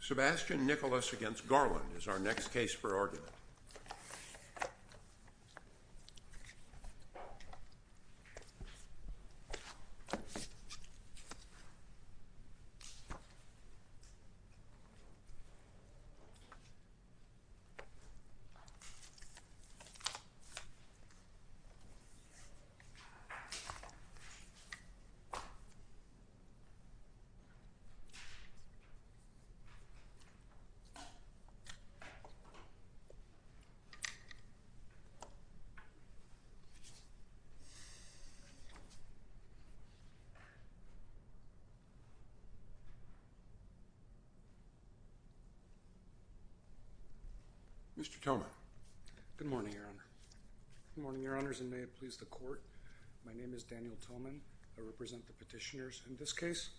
Sebastian Nicolas v. Garland is our next case for argument. Mr. Tillman. Good morning, Your Honor. Good morning, Your Honors, and may it please the court. My name is Daniel Tillman. I represent the petitioners in this case.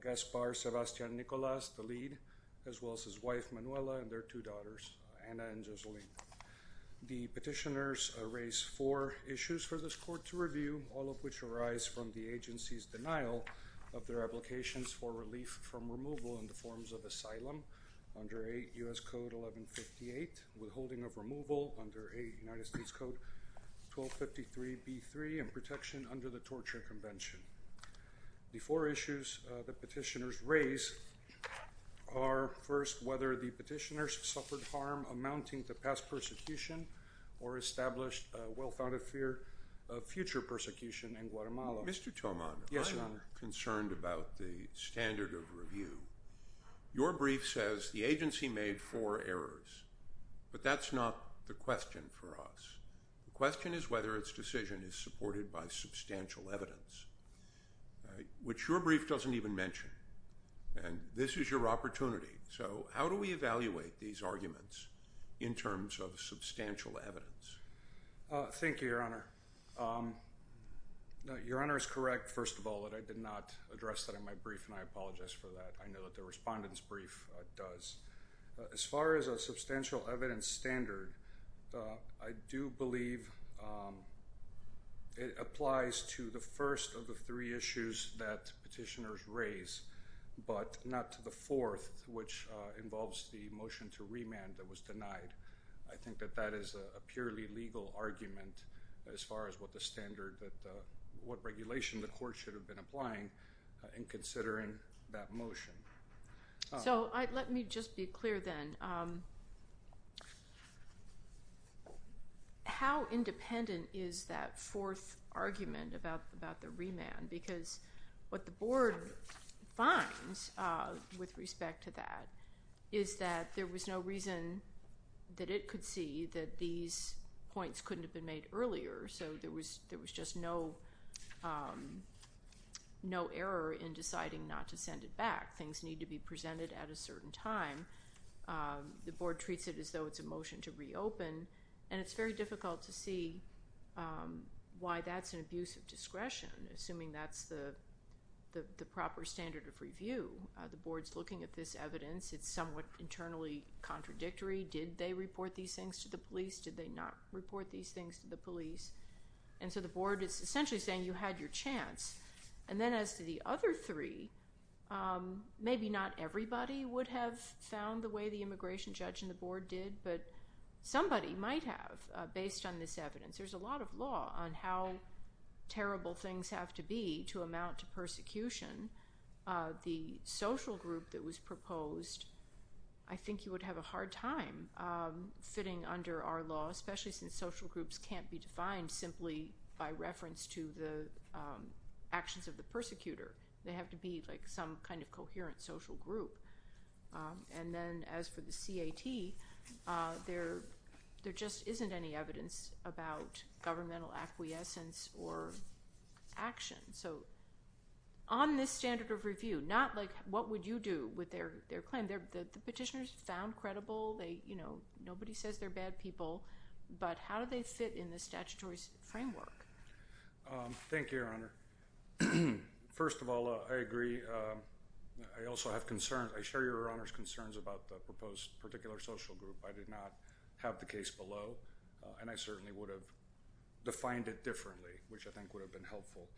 Gaspar Sebastian Nicolas, the lead, as well as his wife, Manuela, and their two daughters, Anna and Joseline. The petitioners raise four issues for this court to review. All of which arise from the agency's denial of their applications for relief from removal in the forms of asylum under a U.S. Code 1158, withholding of removal under a United States Code 1253b3, and protection under the Torture Convention. The four issues the petitioners raise are, first, whether the petitioners suffered harm amounting to past persecution or established a well-founded fear of future persecution in Guatemala. Mr. Tillman. Yes, Your Honor. I'm concerned about the standard of review. Your brief says the agency made four errors, but that's not the question for us. The question is whether its decision is supported by substantial evidence, which your brief doesn't even mention. And this is your Thank you, Your Honor. Your Honor is correct, first of all, that I did not address that in my brief, and I apologize for that. I know that the respondent's brief does. As far as a substantial evidence standard, I do believe it applies to the first of the three issues that petitioners raise, but not to the fourth, which involves the motion to remand that was a purely legal argument as far as what the standard, what regulation the court should have been applying in considering that motion. So let me just be clear then. How independent is that fourth argument about the remand? Because what the Board finds with respect to that is that there was no reason that it could see that these points couldn't have been made earlier, so there was just no error in deciding not to send it back. Things need to be presented at a certain time. The Board treats it as though it's a motion to reopen, and it's very difficult to see why that's an abuse of discretion, assuming that's the evidence. It's somewhat internally contradictory. Did they report these things to the police? Did they not report these things to the police? And so the Board is essentially saying you had your chance. And then as to the other three, maybe not everybody would have found the way the immigration judge and the Board did, but somebody might have based on this evidence. There's a lot of law on how terrible things have to be to amount to persecution. The social group that was proposed, I think you would have a hard time fitting under our law, especially since social groups can't be defined simply by reference to the actions of the persecutor. They have to be like some kind of coherent social group. And then as for the CAT, there just isn't any evidence about governmental acquiescence or action. So on this standard of review, not like what would you do with their claim. The petitioners found credible. Nobody says they're bad people, but how do they fit in the statutory framework? Thank you, Your Honor. First of all, I agree. I also have concerns. I share Your Honor's concerns about the proposed particular social group. I did not have the case below, and I certainly would have defined it differently, which I think would have been helpful.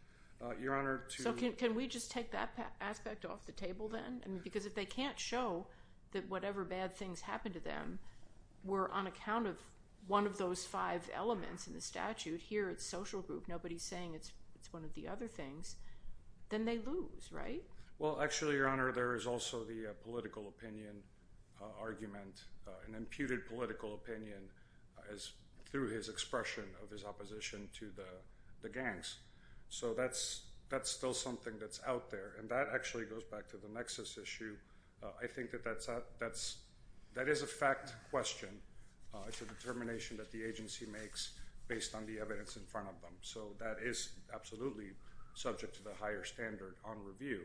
So can we just take that aspect off the table then? Because if they can't show that whatever bad things happened to them were on account of one of those five elements in the statute, here it's social group, nobody's saying it's one of the other things, then they lose, right? Well, actually, Your Honor, there is also the political opinion argument, an imputed political opinion through his expression of his opposition to the gangs. So that's still something that's out there, and that actually goes back to the nexus issue. I think that that is a fact question. It's a determination that the agency makes based on the evidence in front of them. So that is absolutely subject to the higher standard on review.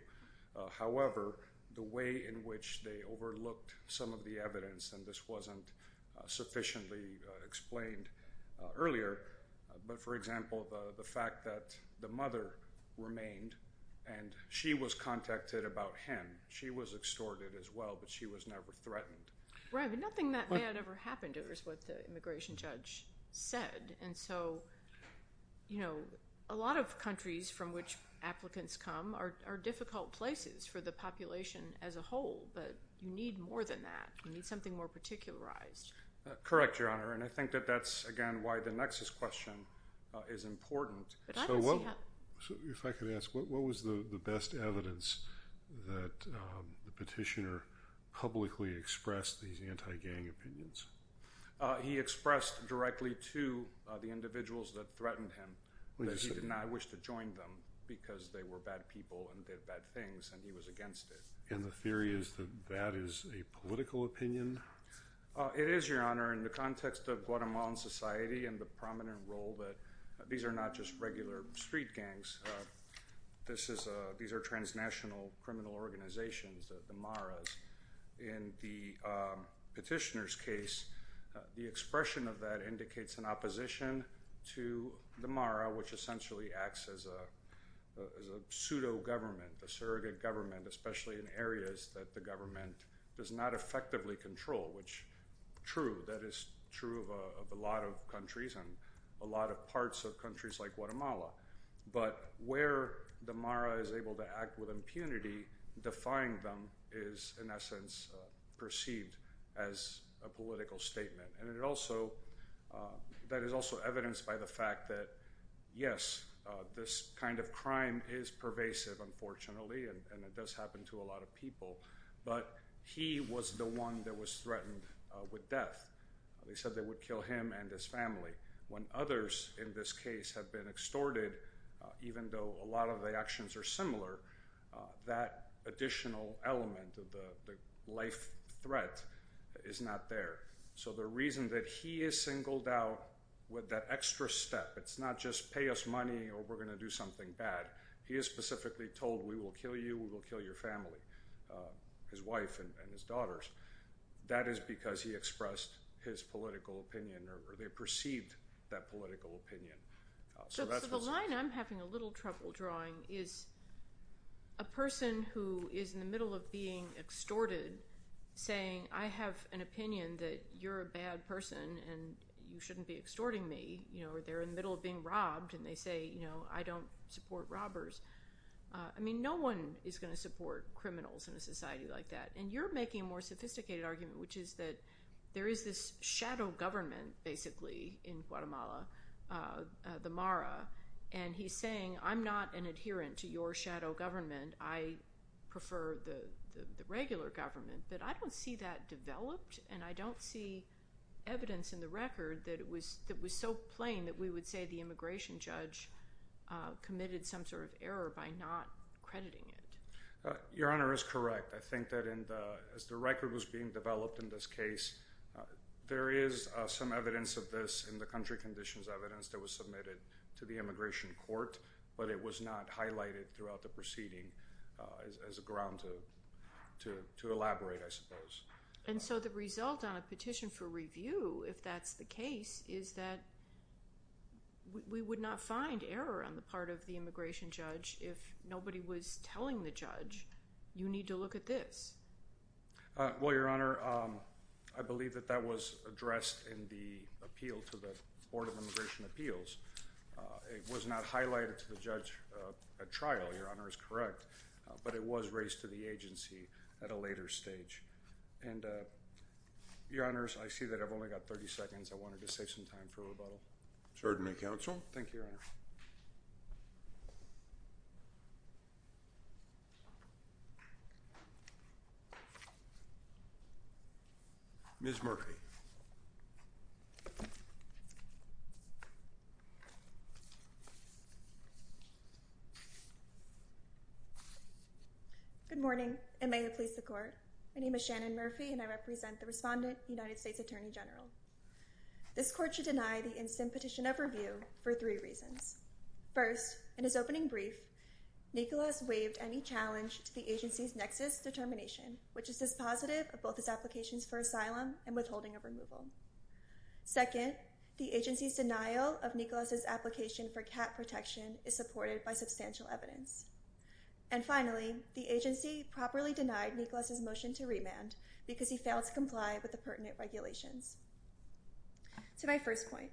However, the way in which they overlooked some of the evidence, and this wasn't sufficiently explained earlier, but for example, the fact that the mother remained, and she was contacted about him. She was extorted as well, but she was never threatened. Right, but nothing that bad ever happened, is what the immigration judge said. And so a lot of countries from which applicants come are difficult places for the population as a whole, but you need more than that. You need something more particularized. Correct, Your Honor, and I think that that's, again, why the nexus question is important. So if I could ask, what was the best evidence that the petitioner publicly expressed these individuals that threatened him, that he did not wish to join them because they were bad people and did bad things, and he was against it? And the theory is that that is a political opinion? It is, Your Honor, in the context of Guatemalan society and the prominent role that these are not just regular street gangs. These are transnational criminal organizations, the MARA, which essentially acts as a pseudo-government, a surrogate government, especially in areas that the government does not effectively control, which, true, that is true of a lot of countries and a lot of parts of countries like Guatemala. But where the MARA is able to act with impunity, defying them is, in essence, perceived as a political statement. And that is also evidenced by the fact that, yes, this kind of crime is pervasive, unfortunately, and it does happen to a lot of people, but he was the one that was threatened with death. They said they would kill him and his family. When others in this case have been extorted, even though a lot of the actions are similar, that additional element of the life threat is not there. So the reason that he is singled out with that extra step, it's not just pay us money or we're going to do something bad. He is specifically told we will kill you, we will kill your family, his wife and his daughters. That is because he expressed his political opinion or they perceived that political opinion. So the line I'm having a little trouble drawing is a person who is in the middle of being extorted saying, I have an opinion that you're a bad person and you shouldn't be extorting me. Or they're in the middle of being robbed and they say, I don't support robbers. I mean, no one is going to support criminals in a society like that. And you're making a more sophisticated argument, which is that there is this shadow government, basically, in Guatemala, the MARA, and he's saying, I'm not an adherent to your shadow government. I prefer the regular government. But I don't see that developed and I don't see evidence in the record that was so plain that we would say the immigration judge committed some sort of error by not crediting it. Your Honor is correct. I think that as the record was being developed in this case, there is some evidence of this in the country conditions evidence that was submitted to the immigration court, but it was not highlighted throughout the proceeding as a ground to elaborate, I suppose. And so the result on a petition for review, if that's the case, is that we would not find error on the part of the immigration judge if nobody was telling the judge, you need to look at this. Well, Your Honor, I believe that that was addressed in the appeal to the Board of Immigration Appeals. It was not highlighted to the judge at trial. Your Honor is correct. But it was raised to the agency at a later stage. And Your Honors, I see that I've only got 30 seconds. I wanted to save some time for rebuttal. Certainly, Counsel. Thank you, Your Honor. Ms. Murphy. Good morning, and may it please the Court. My name is Shannon Murphy, and I represent the respondent, United States Attorney General. This Court should deny the instant petition of review for three reasons. First, in his opening brief, Nicholas waived any challenge to the agency's nexus determination, which is dispositive of both his applications for asylum and withholding of removal. Second, the agency's denial of Nicholas' application for cat protection is supported by substantial evidence. And finally, the agency properly denied Nicholas' motion to remand because he failed to comply with the pertinent regulations. To my first point,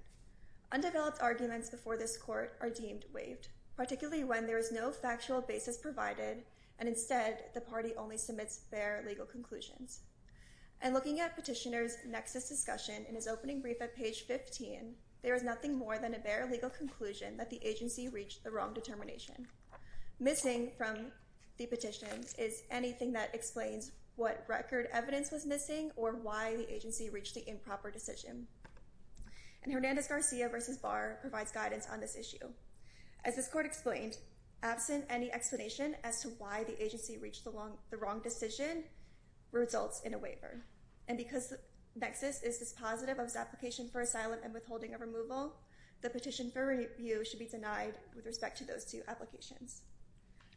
undeveloped arguments before this Court are deemed waived, particularly when there is no factual basis provided, and instead, the party only submits bare legal conclusions. And looking at Petitioner's nexus discussion in his opening brief at page 15, there is nothing more than a bare legal conclusion that the agency reached the wrong determination. Missing from the petitions is anything that explains what record evidence was missing or why the agency reached the improper decision. And Hernandez-Garcia v. Barr provides guidance on this issue. As this Court explained, absent any explanation as to why the agency reached the wrong decision results in a waiver. And because the nexus is dispositive of his application for asylum and withholding of removal, the petition for review should be denied with respect to those two applications.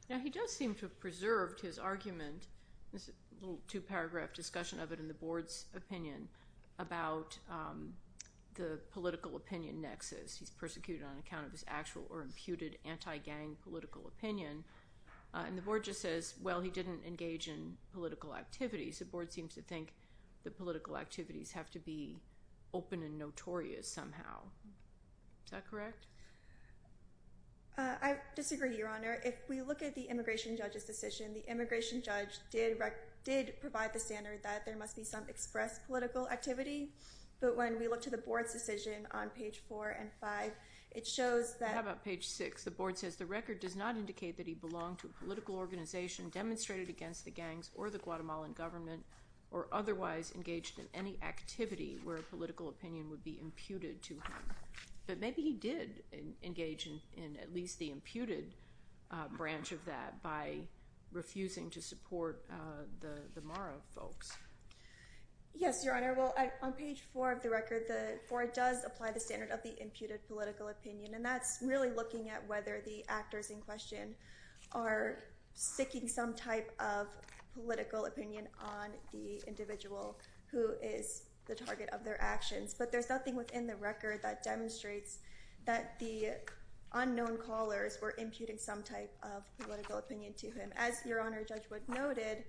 Now, he does seem to have preserved his argument, this little two-paragraph discussion of it in the Board's opinion, about the political opinion nexus. He's persecuted on account of his actual or imputed anti-gang political opinion. And the Board just says, well, he didn't engage in political activities. The Board seems to think the political activities have to be open and notorious somehow. Is that correct? I disagree, Your Honor. If we look at the Immigration Judge's decision, the Immigration Judge did provide the standard that there must be some express political activity. But when we look to the Board's decision on page 4 and 5, it shows that… How about page 6? The Board says, the record does not indicate that he belonged to a political organization demonstrated against the gangs or the Guatemalan government or otherwise engaged in any activity where a political opinion would be imputed to him. But maybe he did engage in at least the imputed branch of that by refusing to support the Mara folks. Yes, Your Honor. Well, on page 4 of the record, the Board does apply the standard of the imputed political opinion. And that's really looking at whether the actors in question are seeking some type of political opinion on the individual who is the target of their actions. But there's nothing within the record that demonstrates that the unknown callers were imputing some type of political opinion to him. As Your Honor, Judge Wood noted,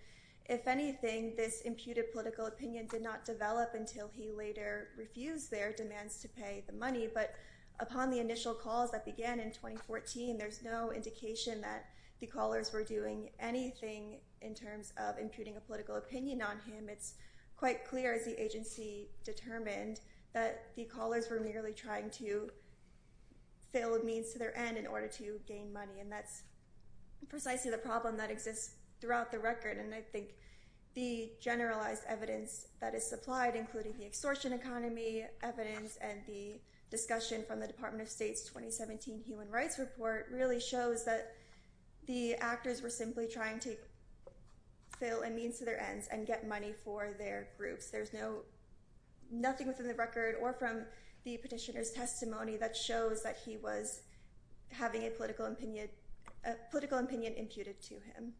if anything, this imputed political opinion did not develop until he later refused their demands to pay the money. But upon the initial calls that began in 2014, there's no indication that the callers were doing anything in terms of imputing a political opinion on him. It's quite clear as the agency determined that the callers were merely trying to fill a means to their end in order to gain money. And that's precisely the problem that exists throughout the record. And I think the generalized evidence that is supplied, including the extortion economy evidence and the discussion from the Department of State's 2017 Human Rights Report, really shows that the actors were simply trying to fill a means to their ends and get money for their groups. There's nothing within the record or from the petitioner's testimony that shows that he was having a political opinion imputed to him.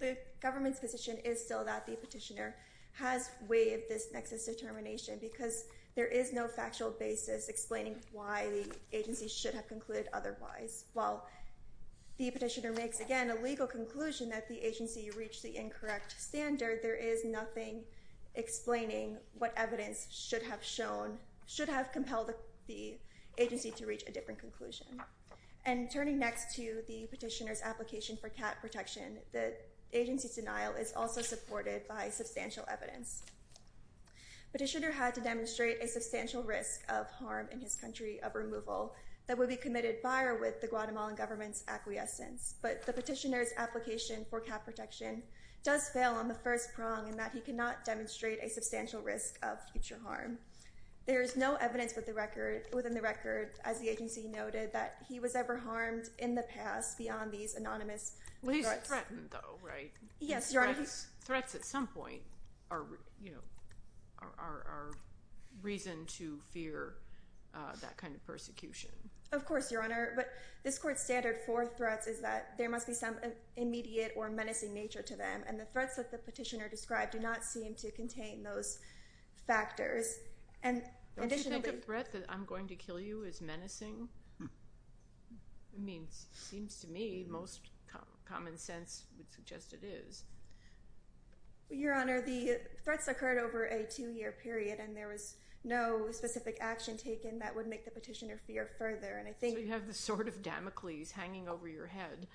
The government's position is still that the petitioner has waived this nexus determination because there is no factual basis explaining why the agency should have concluded otherwise. While the petitioner makes, again, a legal conclusion that the agency reached the incorrect standard, there is nothing explaining what evidence should have compelled the agency to reach a different conclusion. And turning next to the petitioner's application for cat protection, the agency's denial is also supported by substantial evidence. Petitioner had to demonstrate a substantial risk of harm in his country of removal that would be committed by or with the Guatemalan government's acquiescence. But the petitioner's application for cat protection does fail on the first prong in that he cannot demonstrate a substantial risk of future harm. There is no evidence within the record, as the agency noted, that he was ever harmed in the past beyond these anonymous threats. Yes, Your Honor. Threats at some point are reason to fear that kind of persecution. Of course, Your Honor. But this Court's standard for threats is that there must be some immediate or menacing nature to them, and the threats that the petitioner described do not seem to contain those factors. Don't you think a threat that I'm going to kill you is menacing? I mean, it seems to me most common sense would suggest it is. Your Honor, the threats occurred over a two-year period, and there was no specific action taken that would make the petitioner fear further. So you have the sword of Damocles hanging over your head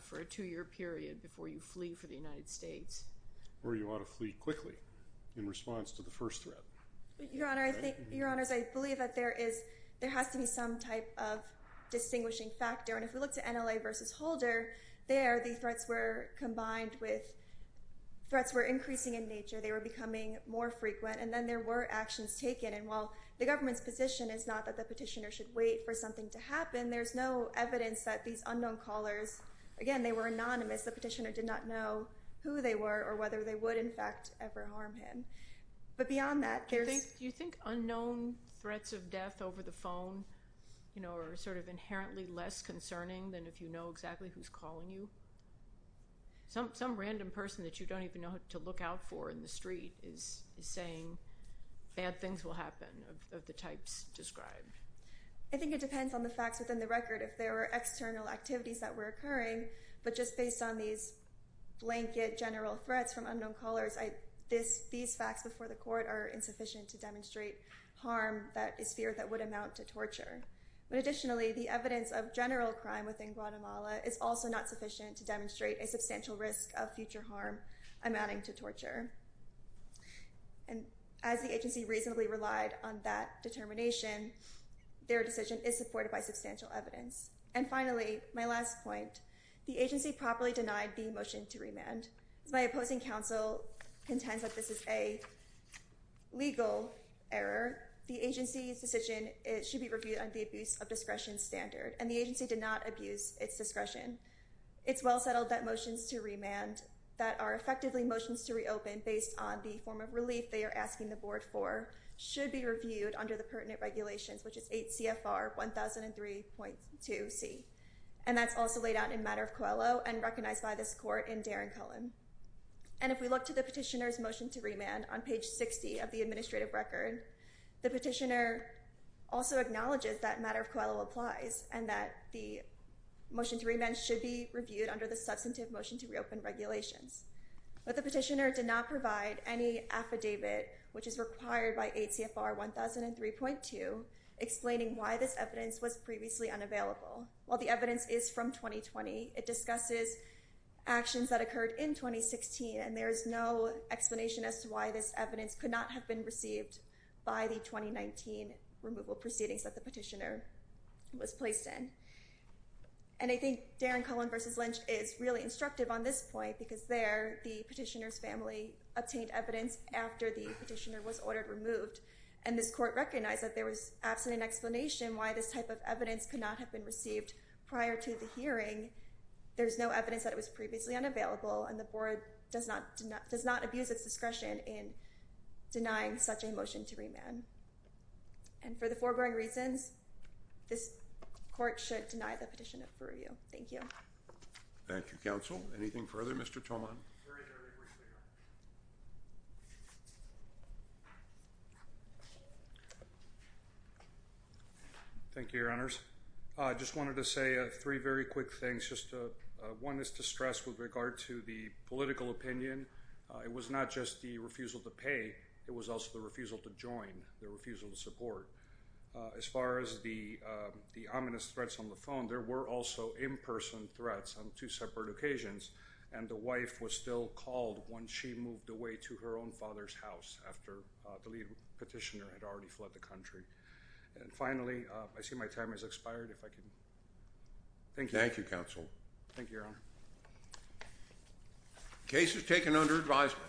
for a two-year period before you flee for the United States. Or you ought to flee quickly in response to the first threat. Your Honor, I think—Your Honors, I believe that there is— there has to be some type of distinguishing factor. And if we look to NLA v. Holder, there the threats were combined with— threats were increasing in nature. They were becoming more frequent, and then there were actions taken. And while the government's position is not that the petitioner should wait for something to happen, there's no evidence that these unknown callers— again, they were anonymous. The petitioner did not know who they were or whether they would, in fact, ever harm him. But beyond that, there's— Do you think unknown threats of death over the phone, you know, are sort of inherently less concerning than if you know exactly who's calling you? Some random person that you don't even know to look out for in the street is saying bad things will happen of the types described. I think it depends on the facts within the record. If there were external activities that were occurring, but just based on these blanket general threats from unknown callers, these facts before the court are insufficient to demonstrate harm that is feared that would amount to torture. But additionally, the evidence of general crime within Guatemala is also not sufficient to demonstrate a substantial risk of future harm amounting to torture. And as the agency reasonably relied on that determination, their decision is supported by substantial evidence. And finally, my last point. The agency properly denied the motion to remand. As my opposing counsel contends that this is a legal error, the agency's decision should be reviewed under the abuse of discretion standard. And the agency did not abuse its discretion. It's well settled that motions to remand that are effectively motions to reopen based on the form of relief they are asking the board for should be reviewed under the pertinent regulations, which is 8 CFR 1003.2C. And that's also laid out in Matter of Coelho and recognized by this court in Darren Cullen. And if we look to the petitioner's motion to remand on page 60 of the administrative record, the petitioner also acknowledges that Matter of Coelho applies and that the motion to remand should be reviewed under the substantive motion to reopen regulations. But the petitioner did not provide any affidavit, which is required by 8 CFR 1003.2, explaining why this evidence was previously unavailable. While the evidence is from 2020, it discusses actions that occurred in 2016, and there is no explanation as to why this evidence could not have been received by the 2019 removal proceedings that the petitioner was placed in. And I think Darren Cullen v. Lynch is really instructive on this point because there, the petitioner's family obtained evidence after the petitioner was ordered removed. And this court recognized that there was absolutely no explanation why this type of evidence could not have been received prior to the hearing. There's no evidence that it was previously unavailable, and the board does not abuse its discretion in denying such a motion to remand. And for the foregoing reasons, this court should deny the petition for review. Thank you. Thank you, counsel. Anything further, Mr. Tolman? There is. Thank you, Your Honors. I just wanted to say three very quick things. One is to stress with regard to the political opinion, it was not just the refusal to pay, it was also the refusal to join, the refusal to support. As far as the ominous threats on the phone, there were also in-person threats on two separate occasions, and the wife was still called once she moved away to her own father's house after the lead petitioner had already fled the country. And finally, I see my time has expired. If I could... Thank you. Thank you, counsel. Thank you, Your Honor. Case is taken under advisement.